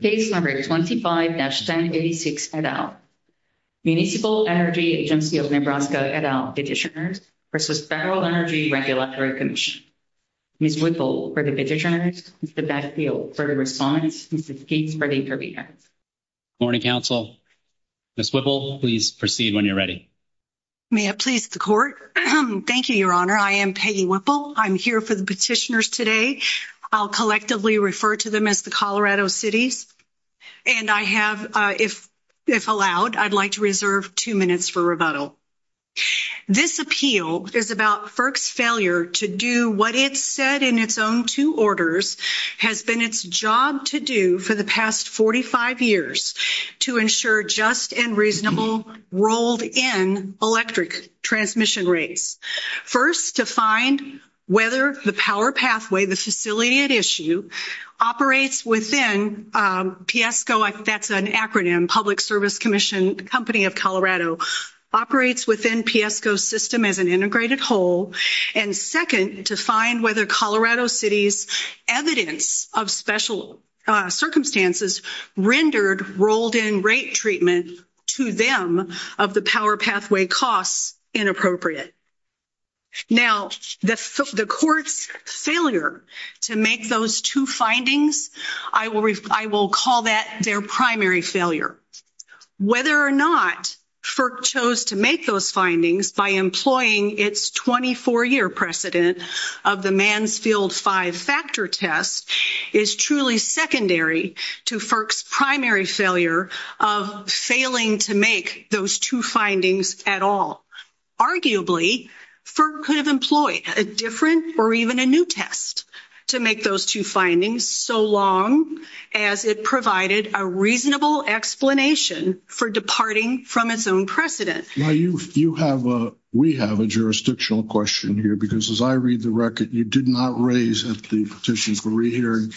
case number 25-1086 et al. Municipal Energy Agency of Nebraska et al. Petitioners v. Federal Energy Regulatory Commission. Ms. Whipple for the petitioners, Mr. Bechtle for the respondents, and Ms. Gates for the interviewers. Good morning, Council. Ms. Whipple, please proceed when you're ready. May it please the Court. Thank you, Your Honor. I am Peggy Whipple. I'm here for the petitioners today. I'll collectively refer to them as the Colorado Cities, and I have, if allowed, I'd like to reserve two minutes for rebuttal. This appeal is about FERC's failure to do what it said in its own two orders has been its job to do for the past 45 years to ensure just and reasonable rolled-in electric transmission rates. First, to find whether the power pathway, the facility at issue, operates within PSCO, that's an acronym, Public Service Commission Company of Colorado, operates within PSCO's system as an integrated whole. And second, to find whether Colorado Cities' evidence of special circumstances rendered rolled-in rate treatment to them of the power pathway costs inappropriate. Now, the Court's failure to make those two findings, I will call that their primary failure. Whether or not FERC chose to make those findings by employing its 24-year precedent of the Mansfield Five-Factor Test is truly secondary to FERC's primary failure of failing to make those two findings at all. Arguably, FERC could have employed a different or even a new test to make those two findings so long as it provided a reasonable explanation for departing from its own precedent. Now, we have a jurisdictional question here, because as I read the record, you did not raise at the Petition for Rehearing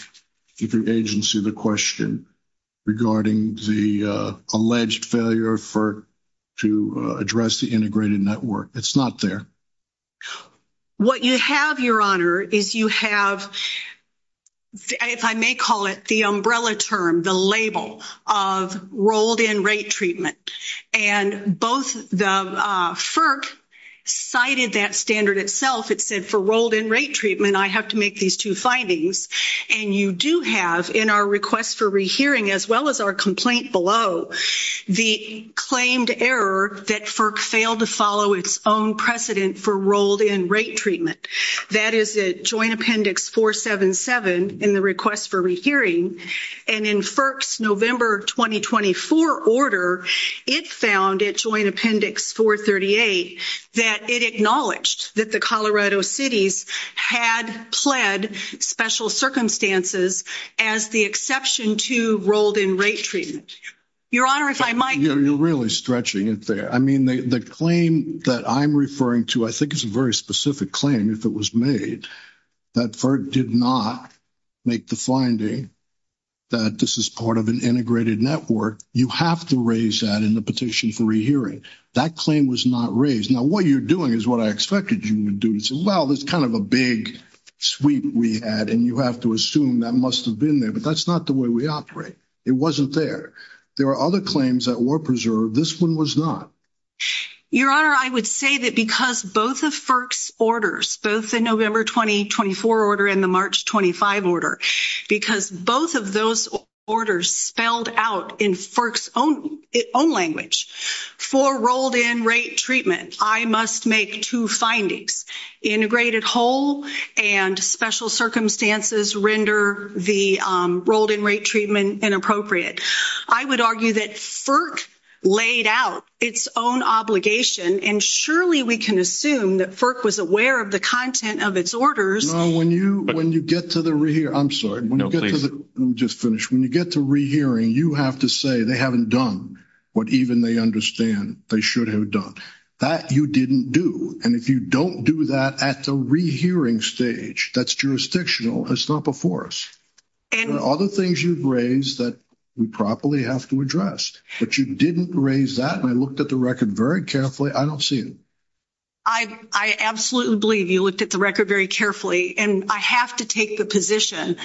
Agency the question regarding the alleged failure of FERC to address the integrated network. It's not there. What you have, Your Honor, is you have, if I may call it, the umbrella term, the label of rolled-in rate treatment. And both the FERC cited that standard itself. It said, for rolled-in rate treatment, I have to make these two findings. And you do have, in our request for rehearing as well as our complaint below, the claimed error that FERC failed to follow its own precedent for rolled-in rate treatment. That is at Joint Appendix 477 in the request for rehearing. And in FERC's November 2024 order, it found at Joint Appendix 438 that it acknowledged that the Colorado cities had pled special circumstances as the exception to rolled-in rate treatment. Your Honor, if I might. You're really stretching it there. I mean, the claim that I'm referring to, I think it's a very specific claim if it was made, that FERC did not make the finding that this is part of an integrated network. You have to raise that in the petition for rehearing. That claim was not raised. Now, what you're doing is what I expected you would do. Well, it's kind of a big sweep we had, and you have to assume that must have been there. But that's not the way we operate. It wasn't there. There are other claims that were preserved. This one was not. Your Honor, I would say that because both of FERC's orders, both the November 2024 order and the March 25 order, because both of those orders spelled out in FERC's own language for rolled-in rate treatment, I must make two findings. Integrated whole and special circumstances render the rolled-in rate treatment inappropriate. I would argue that FERC laid out its own obligation, and surely we can assume that FERC was aware of the content of its orders. No, when you get to the – I'm sorry. No, please. Let me just finish. When you get to rehearing, you have to say they haven't done what even they understand they should have done. That you didn't do. And if you don't do that at the rehearing stage, that's jurisdictional. It's not before us. There are other things you've raised that we properly have to address. But you didn't raise that, and I looked at the record very carefully. I don't see it. I absolutely believe you looked at the record very carefully. And I have to take the position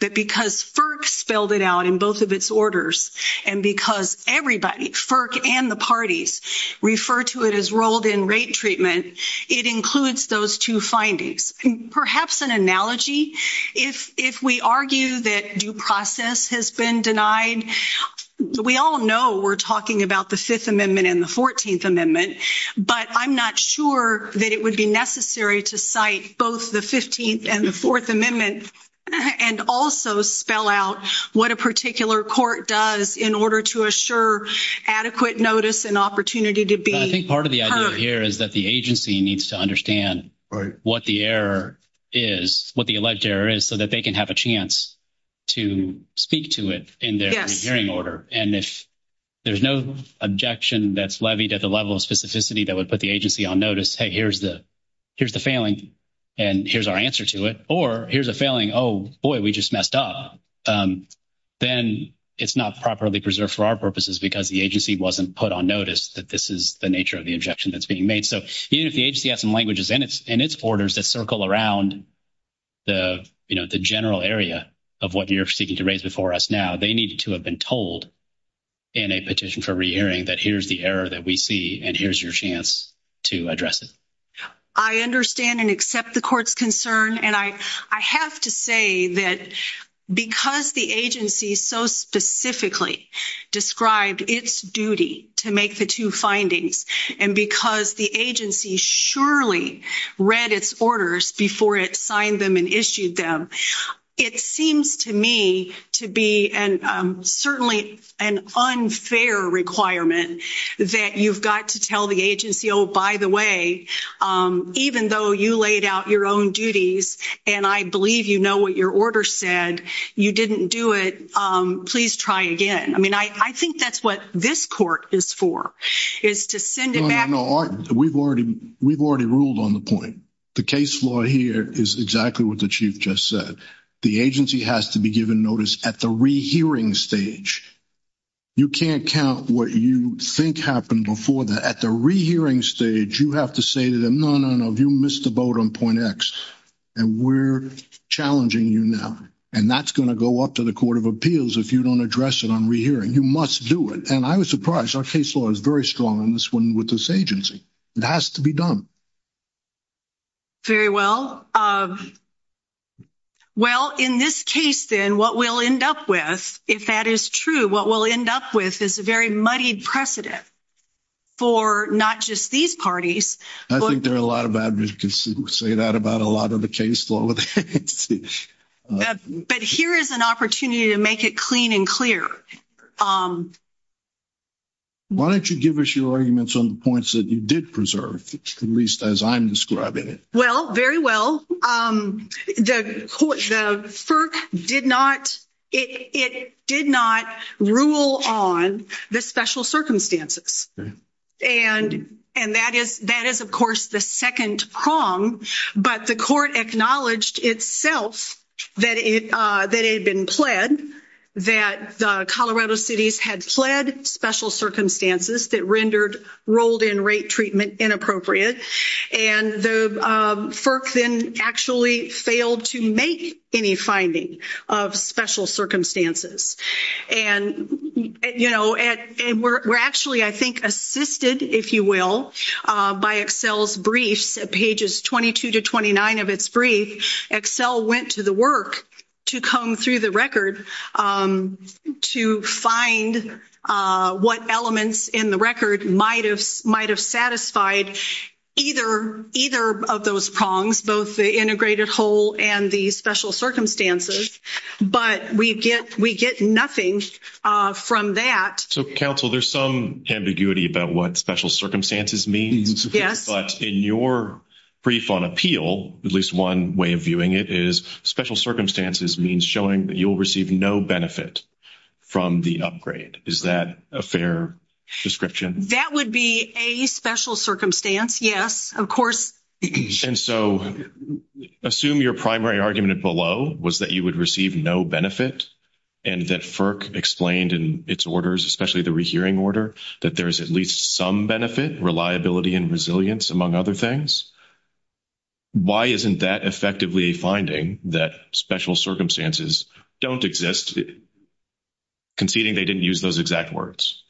that because FERC spelled it out in both of its orders and because everybody, FERC and the parties, refer to it as rolled-in rate treatment, it includes those two findings. Perhaps an analogy, if we argue that due process has been denied, we all know we're talking about the Fifth Amendment and the Fourteenth Amendment, but I'm not sure that it would be necessary to cite both the Fifteenth and the Fourth Amendment and also spell out what a particular court does in order to assure adequate notice and opportunity to be heard. I think part of the idea here is that the agency needs to understand what the error is, what the alleged error is, so that they can have a chance to speak to it in their hearing order. And if there's no objection that's levied at the level of specificity that would put the agency on notice, hey, here's the failing and here's our answer to it, or here's a failing, oh, boy, we just messed up, then it's not properly preserved for our purposes because the agency wasn't put on notice that this is the nature of the objection that's being made. So even if the agency has some languages in its orders that circle around the general area of what you're seeking to raise before us now, they need to have been told in a petition for re-hearing that here's the error that we see and here's your chance to address it. I understand and accept the court's concern. And I have to say that because the agency so specifically described its duty to make the two findings and because the agency surely read its orders before it signed them and issued them, it seems to me to be certainly an unfair requirement that you've got to tell the agency, oh, by the way, even though you laid out your own duties and I believe you know what your order said, you didn't do it, please try again. I mean, I think that's what this court is for, is to send it back. No, no, no. We've already ruled on the point. The case law here is exactly what the Chief just said. The agency has to be given notice at the re-hearing stage. You can't count what you think happened before that. At the re-hearing stage, you have to say to them, no, no, no, you missed the boat on point X, and we're challenging you now. And that's going to go up to the Court of Appeals if you don't address it on re-hearing. You must do it. And I was surprised. Our case law is very strong on this one with this agency. It has to be done. Very well. Well, in this case, then, what we'll end up with, if that is true, what we'll end up with is a very muddied precedent for not just these parties. I think there are a lot of advocates who say that about a lot of the case law. But here is an opportunity to make it clean and clear. Why don't you give us your arguments on the points that you did preserve, at least as I'm describing it. Well, very well. The FERC did not rule on the special circumstances. And that is, of course, the second prong. But the court acknowledged itself that it had been pled, that the Colorado cities had pled special circumstances that rendered rolled-in rate treatment inappropriate. And the FERC then actually failed to make any finding of special circumstances. And, you know, we're actually, I think, assisted, if you will, by Excel's briefs, pages 22 to 29 of its brief. Excel went to the work to come through the record to find what elements in the record might have satisfied either of those prongs, both the integrated whole and the special circumstances. But we get nothing from that. So, counsel, there's some ambiguity about what special circumstances means. Yes. But in your brief on appeal, at least one way of viewing it, is special circumstances means showing that you'll receive no benefit from the upgrade. Is that a fair description? That would be a special circumstance, yes, of course. And so assume your primary argument below was that you would receive no benefit and that FERC explained in its orders, especially the rehearing order, that there is at least some benefit, reliability, and resilience among other things. Why isn't that effectively a finding that special circumstances don't exist, conceding they didn't use those exact words?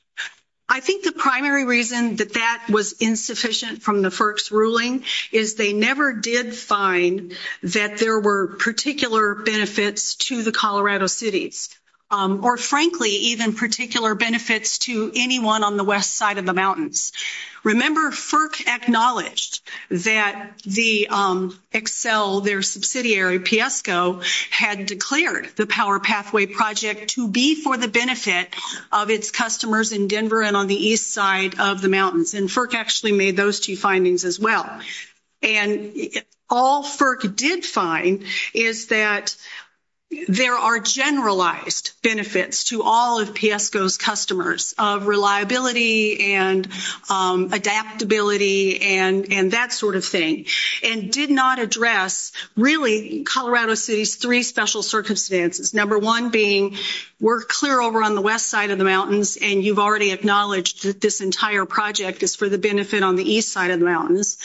I think the primary reason that that was insufficient from the FERC's ruling is they never did find that there were particular benefits to the Colorado cities or, frankly, even particular benefits to anyone on the west side of the Remember, FERC acknowledged that the Excel, their subsidiary, Piesco, had declared the Power Pathway Project to be for the benefit of its customers in Denver and on the east side of the mountains. And FERC actually made those two findings as well. And all FERC did find is that there are generalized benefits to all of Piesco's customers of reliability and adaptability and that sort of thing, and did not address really Colorado City's three special circumstances, number one being we're clear over on the west side of the mountains, and you've already acknowledged that this entire project is for the benefit on the east side of the mountains,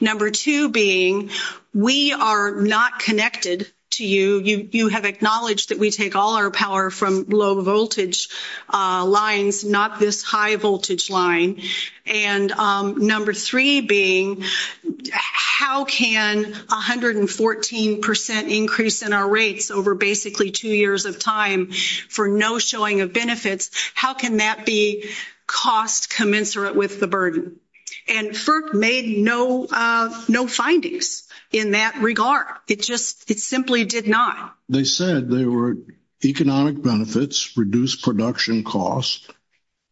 number two being we are not connected to you. You have acknowledged that we take all our power from low-voltage lines, not this high-voltage line. And number three being how can 114 percent increase in our rates over basically two years of time for no showing of benefits, how can that be cost commensurate with the burden? And FERC made no findings in that regard. It just simply did not. They said there were economic benefits, reduced production costs,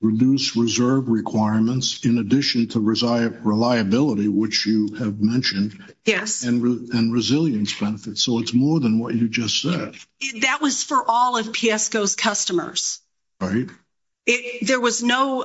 reduced reserve requirements in addition to reliability, which you have mentioned, and resilience benefits. So it's more than what you just said. That was for all of Piesco's customers. Right. There was no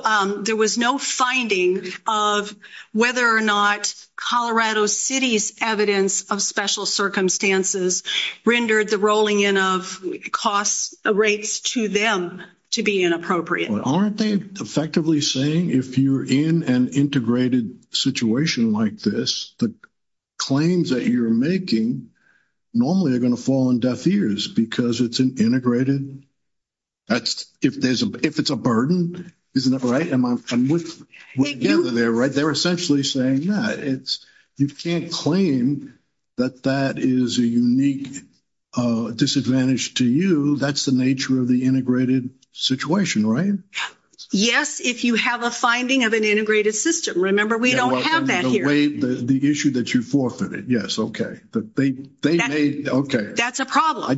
finding of whether or not Colorado City's evidence of special circumstances rendered the rolling in of cost rates to them to be inappropriate. Aren't they effectively saying if you're in an integrated situation like this, the claims that you're making normally are going to fall on deaf ears because it's an integrated? If it's a burden, isn't that right? They're essentially saying that. You can't claim that that is a unique disadvantage to you. That's the nature of the integrated situation, right? Yes, if you have a finding of an integrated system. Remember, we don't have that here. The issue that you forfeited. Yes, okay. That's a problem.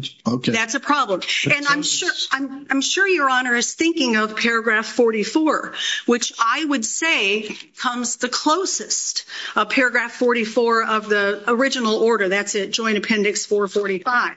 And I'm sure your Honor is thinking of paragraph 44, which I would say comes the closest. Paragraph 44 of the original order, that's Joint Appendix 445.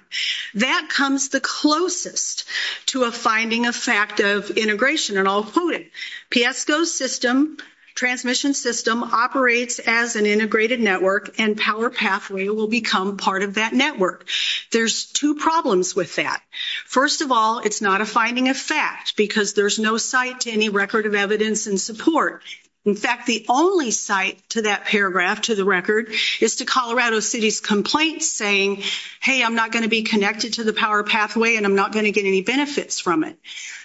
That comes the closest to a finding of fact of integration. And I'll quote it. Piesco's system, transmission system, operates as an integrated network, and Power Pathway will become part of that network. There's two problems with that. First of all, it's not a finding of fact because there's no site to any record of evidence and support. In fact, the only site to that paragraph, to the record, is to Colorado City's complaint saying, hey, I'm not going to be connected to the Power Pathway, and I'm not going to get any benefits from it.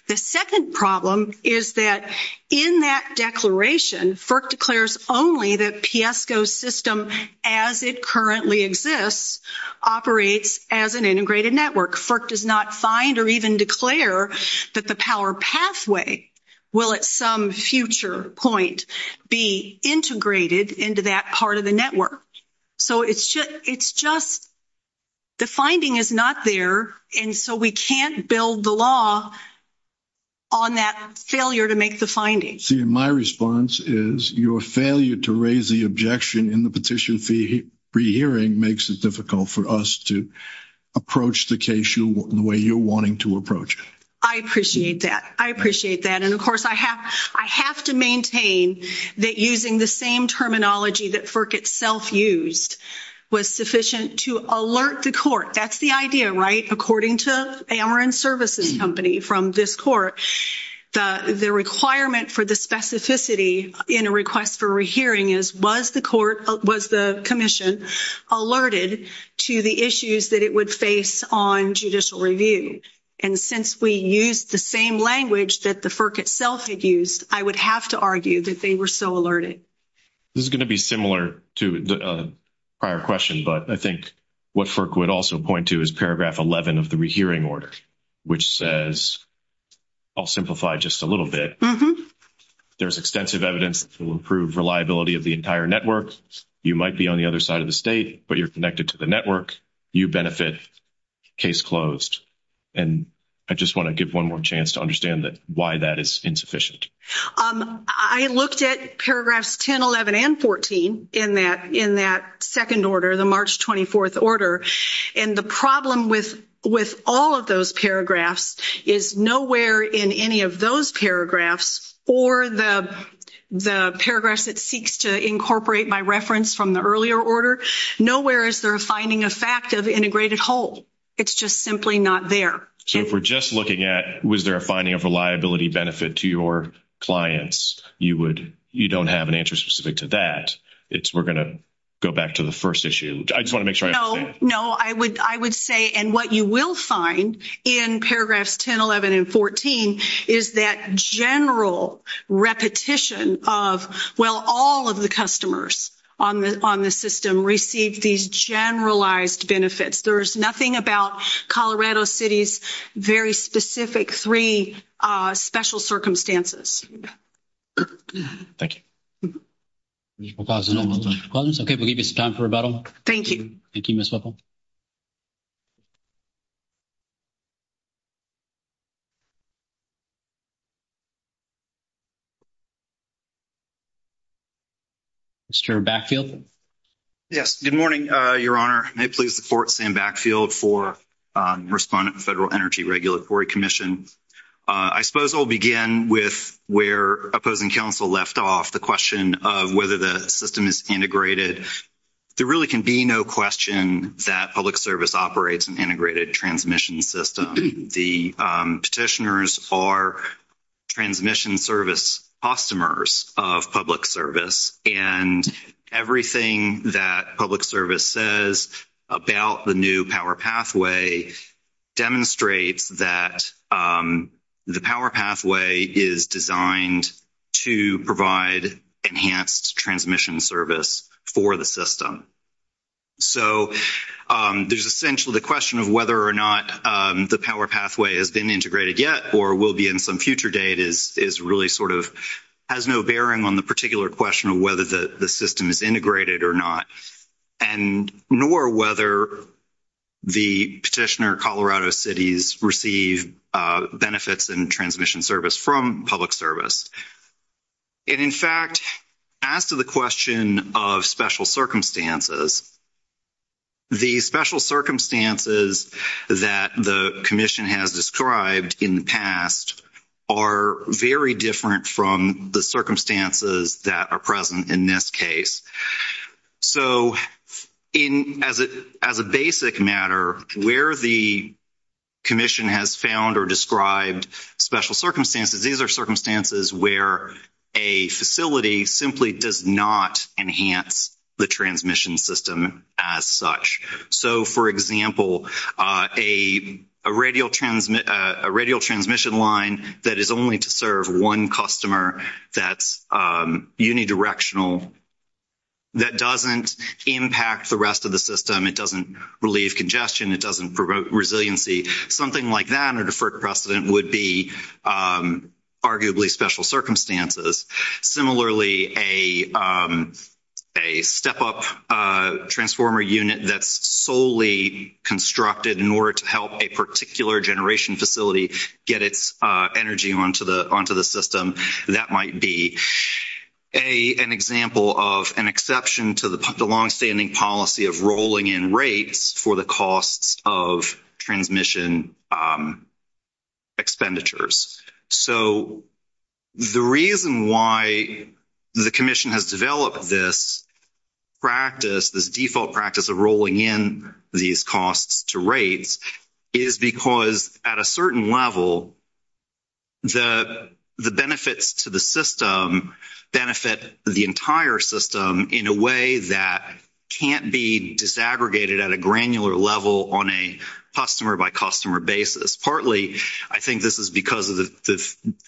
The second problem is that in that declaration, FERC declares only that Piesco's system, as it currently exists, operates as an integrated network. FERC does not find or even declare that the Power Pathway will, at some future point, be integrated into that part of the network. So it's just the finding is not there, and so we can't build the law on that failure to make the finding. See, my response is your failure to raise the objection in the petition to re-hearing makes it difficult for us to approach the case in the way you're wanting to approach it. I appreciate that. I appreciate that. And, of course, I have to maintain that using the same terminology that FERC itself used was sufficient to alert the court. That's the idea, right? According to Ameren Services Company from this court, the requirement for the specificity in a request for re-hearing is, was the commission alerted to the issues that it would face on judicial review? And since we used the same language that the FERC itself had used, I would have to argue that they were so alerted. This is going to be similar to the prior question, but I think what FERC would also point to is paragraph 11 of the re-hearing order, which says, I'll simplify just a little bit, there's extensive evidence that will improve reliability of the entire network. You might be on the other side of the state, but you're connected to the network. You benefit, case closed. And I just want to give one more chance to understand why that is insufficient. I looked at paragraphs 10, 11, and 14 in that second order, the March 24th order, and the problem with all of those paragraphs is nowhere in any of those paragraphs or the paragraphs it seeks to incorporate by reference from the earlier order, nowhere is there a finding of fact of integrated whole. It's just simply not there. So if we're just looking at was there a finding of reliability benefit to your clients, you don't have an answer specific to that. We're going to go back to the first issue. I just want to make sure I understand. No, I would say, and what you will find in paragraphs 10, 11, and 14 is that general repetition of, well, all of the customers on the system received these generalized benefits. There's nothing about Colorado City's very specific three special circumstances. Thank you. Okay, we'll give you some time for rebuttal. Thank you. Thank you, Ms. Whipple. Mr. Backfield? Yes, good morning, Your Honor. May it please the Court, Sam Backfield for Respondent of the Federal Energy Regulatory Commission. I suppose I'll begin with where opposing counsel left off, the question of whether the system is integrated. There really can be no question that public service operates an integrated transmission system. The petitioners are transmission service customers of public service, and everything that public service says about the new power pathway demonstrates that the power pathway is designed to provide enhanced transmission service for the system. So there's essentially the question of whether or not the power pathway has been integrated yet or will be in some future date is really sort of has no bearing on the particular question of whether the system is integrated or not, nor whether the petitioner, Colorado Cities, receive benefits in transmission service from public service. And, in fact, as to the question of special circumstances, the special circumstances that the commission has described in the past are very different from the circumstances that are present in this case. So as a basic matter, where the commission has found or described special circumstances, these are circumstances where a facility simply does not enhance the transmission system as such. So, for example, a radial transmission line that is only to serve one customer that's unidirectional, that doesn't impact the rest of the system, it doesn't relieve congestion, it doesn't promote resiliency, something like that, or deferred precedent, would be arguably special circumstances. Similarly, a step-up transformer unit that's solely constructed in order to help a particular generation facility get its energy onto the system, that might be an example of an exception to the longstanding policy of rolling in rates for the costs of transmission expenditures. So the reason why the commission has developed this practice, this default practice of rolling in these costs to rates, is because at a certain level the benefits to the system benefit the entire system in a way that can't be disaggregated at a granular level on a customer-by-customer basis. Partly I think this is because of the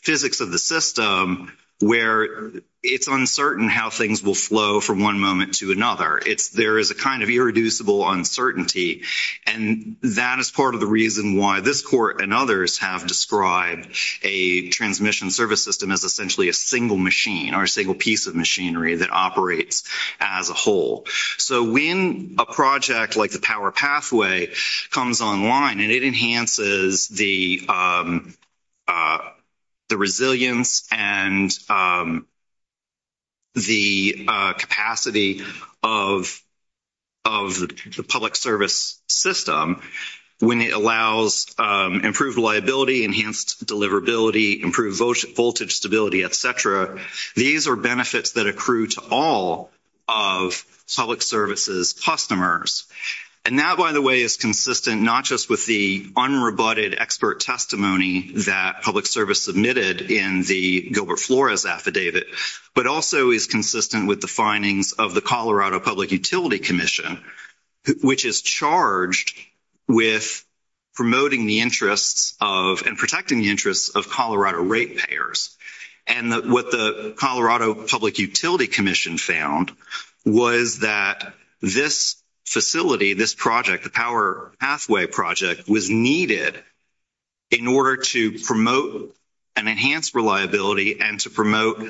physics of the system where it's uncertain how things will flow from one moment to another. There is a kind of irreducible uncertainty. And that is part of the reason why this court and others have described a transmission service system as essentially a single machine or a single piece of machinery that operates as a whole. So when a project like the Power Pathway comes online and it enhances the resilience and the capacity of the public service system, when it allows improved reliability, enhanced deliverability, improved voltage stability, et cetera, these are benefits that accrue to all of public service's customers. And that, by the way, is consistent not just with the unrebutted expert testimony that public service submitted in the Gilbert Flores affidavit, but also is consistent with the findings of the Colorado Public Utility Commission, which is charged with promoting the interests of and protecting the interests of Colorado rate payers. And what the Colorado Public Utility Commission found was that this facility, this project, the Power Pathway project, was needed in order to promote an enhanced reliability and to promote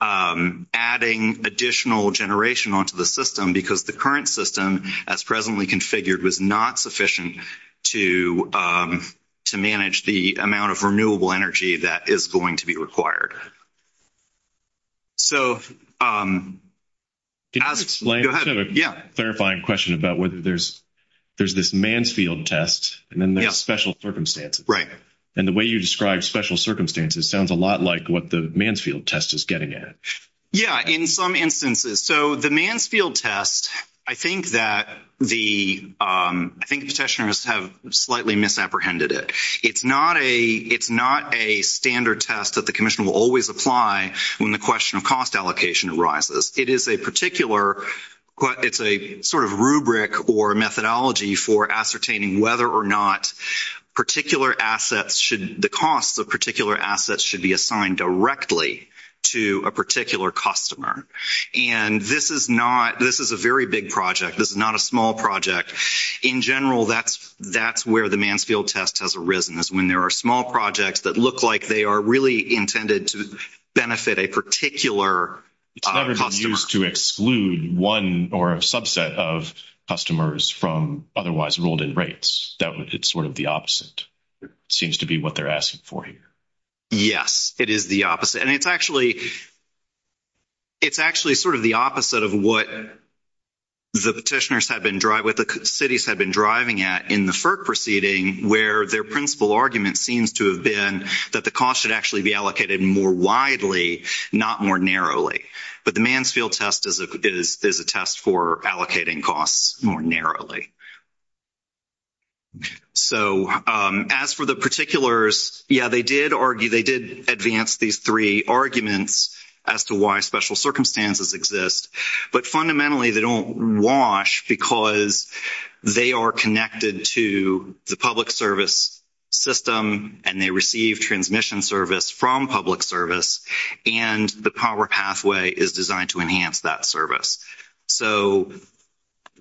adding additional generation onto the system because the current system, as presently configured, was not sufficient to manage the amount of renewable energy that is going to be required. So go ahead. I have a clarifying question about whether there's this Mansfield test and then there's special circumstances. Right. And the way you describe special circumstances sounds a lot like what the Mansfield test is getting at. Yeah. In some instances. So the Mansfield test, I think that the, I think the petitioners have slightly misapprehended it. It's not a standard test that the commission will always apply when the question of cost allocation arises. It is a particular, it's a sort of rubric or methodology for ascertaining whether or not particular assets should, the costs of particular assets should be assigned directly to a particular customer. And this is not, this is a very big project. This is not a small project. In general, that's where the Mansfield test has arisen is when there are small projects that look like they are really intended to benefit a particular customer. It's never been used to exclude one or a subset of customers from otherwise rolled in rates. That would, it's sort of the opposite. It seems to be what they're asking for here. Yes, it is the opposite. And it's actually, it's actually sort of the opposite of what the petitioners have been driving at in the FERC proceeding where their principal argument seems to have been that the cost should actually be allocated more widely, not more narrowly. But the Mansfield test is a test for allocating costs more narrowly. So as for the particulars, yeah, they did argue, they did advance these three arguments as to why special circumstances exist. But fundamentally they don't wash because they are connected to the public service system and they receive transmission service from public service and the power pathway is designed to enhance that service. So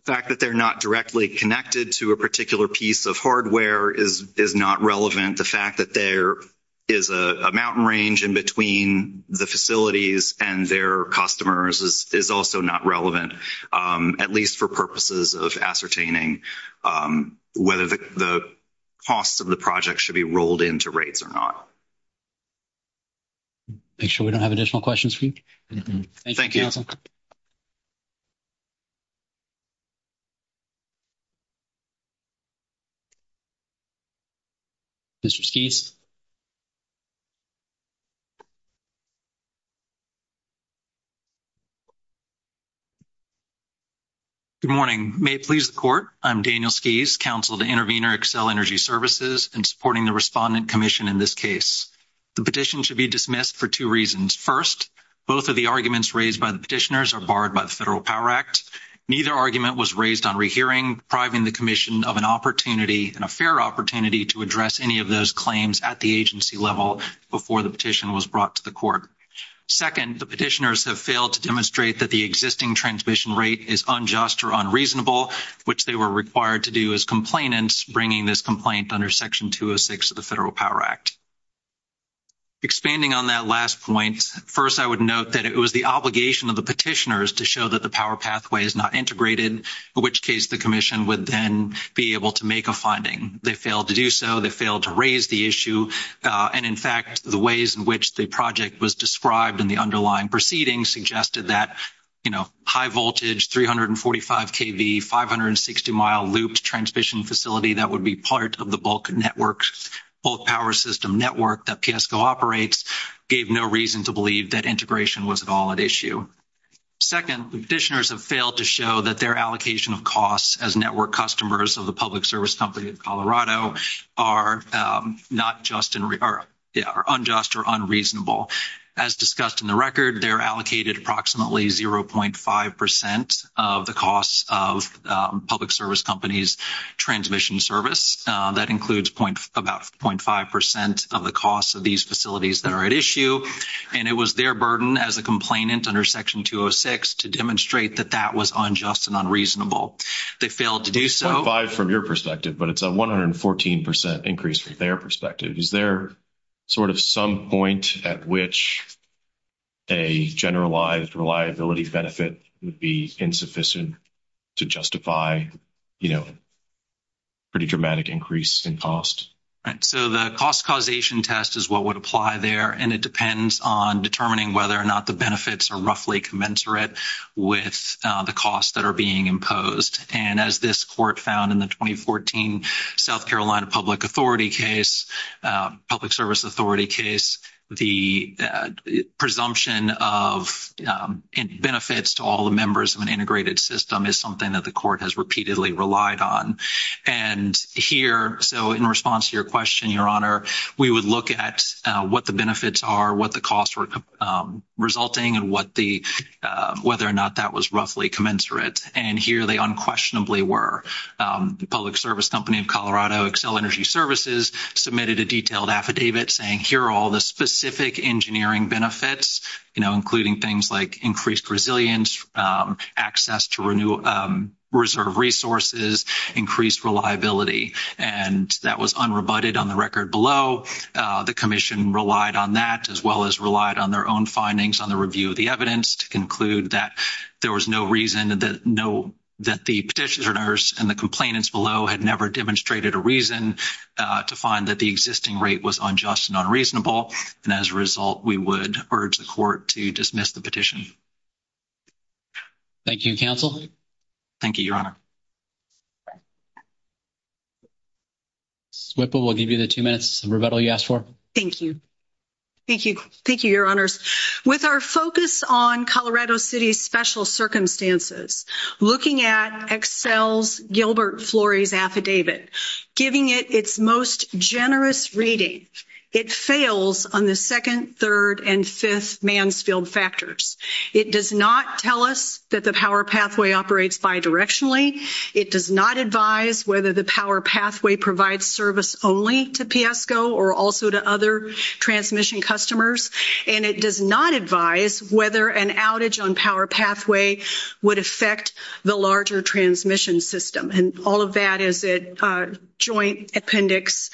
the fact that they're not directly connected to a particular piece of hardware is, is not relevant. The fact that there is a mountain range in between the facilities and their customers is, is also not relevant at least for purposes of ascertaining whether the costs of the project should be rolled into rates or not. Make sure we don't have additional questions for you. Thank you. Mr. Good morning. May please the court. I'm Daniel skis counsel to intervener, Excel energy services and supporting the respondent commission. In this case, the petition should be dismissed for two reasons. First, both of the arguments raised by the petitioners are barred by the federal power act. Neither argument was raised on rehearing priving the commission of an opportunity and a fair opportunity to address any of those claims at the agency level before the petition was brought to the court. And the petitioners have failed to demonstrate that the existing transmission rate is unjust or unreasonable, which they were required to do as complainants, bringing this complaint under section two or six of the federal power act. Expanding on that last point. I would note that it was the obligation of the petitioners to show that the power pathway is not integrated, which case the commission would then be able to make a finding. They failed to do so. They failed to raise the issue. And in fact, the ways in which the project was described in the underlying proceedings suggested that, you know, high voltage, 345 KV, 560 mile loop transmission facility. That would be part of the bulk networks, both power system network that PSCO operates gave no reason to believe that integration was at all at issue. Second petitioners have failed to show that their allocation of costs as network customers of the public service company of Colorado are not just unjust or unreasonable as discussed in the record. They're allocated approximately 0.5% of the costs of public service companies, transmission service that includes point about 0.5% of the costs of these facilities that are at issue. And it was their burden as a complainant under section two or six to demonstrate that that was unjust and unreasonable. They failed to do so. Five from your perspective, but it's a 114% increase from their perspective. Is there sort of some point at which a generalized reliability benefit would be insufficient to justify, you know, pretty dramatic increase in cost. So the cost causation test is what would apply there. And it depends on determining whether or not the benefits are roughly commensurate with the costs that are being imposed. And as this court found in the 2014 South Carolina public authority case, public service authority case, the presumption of benefits to all the members of an integrated system is something that the court has repeatedly relied on and here. So in response to your question, your honor, we would look at what the benefits are, what the costs were resulting and what the whether or not that was roughly commensurate. And here they unquestionably were the public service company of Colorado Excel energy services submitted a detailed affidavit saying here, all the specific engineering benefits, you know, including things like increased resilience access to renew reserve resources, increased reliability. And that was unrebutted on the record below the commission relied on that as well as relied on their own findings on the review of the evidence to conclude that there was no reason that no, that the petitioners and the complainants below had never demonstrated a reason to find that the existing rate was unjust and unreasonable. And as a result, we would urge the court to dismiss the petition. Thank you. Counsel. Thank you, your honor. Swivel. We'll give you the two minutes and rebuttal you asked for. Thank you. Thank you. Thank you. Your honors with our focus on Colorado city, special circumstances, looking at Excel's Gilbert Flores affidavit, giving it its most generous reading. It fails on the second, third and fifth Mansfield factors. It does not tell us that the power pathway operates by directionally. It does not advise whether the power pathway provides service only to PS go, or also to other transmission customers. And it does not advise whether an outage on power pathway would affect the larger transmission system. And all of that is it a joint appendix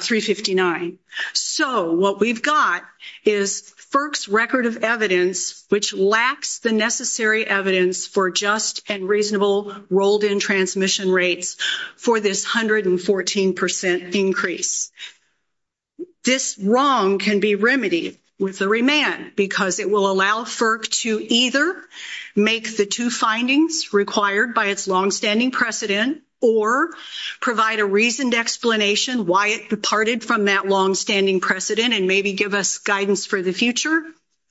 three 59. So what we've got is FERC's record of evidence, which lacks the necessary evidence for just and reasonable rolled in transmission rates for this 114% increase. This wrong can be remedied with the remand because it will allow FERC to either make the two findings required by its longstanding precedent or provide a reasoned explanation, why it departed from that longstanding precedent and maybe give us guidance for the future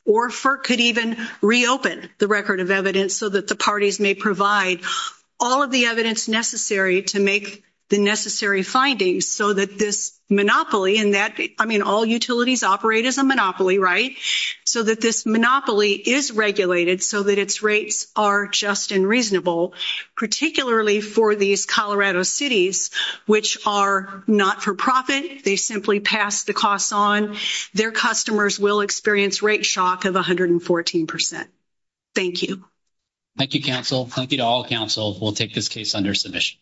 or for could even reopen the record of evidence so that the parties may provide all of the evidence necessary to make the necessary findings so that this monopoly in that, I mean, all utilities operate as a monopoly, right? So that this monopoly is regulated so that its rates are just and reasonable, particularly for these Colorado cities, which are not for profit. They simply pass the costs on their customers will experience rate shock of 114%. Thank you. Thank you. Counsel, thank you to all counsel. We'll take this case under submission.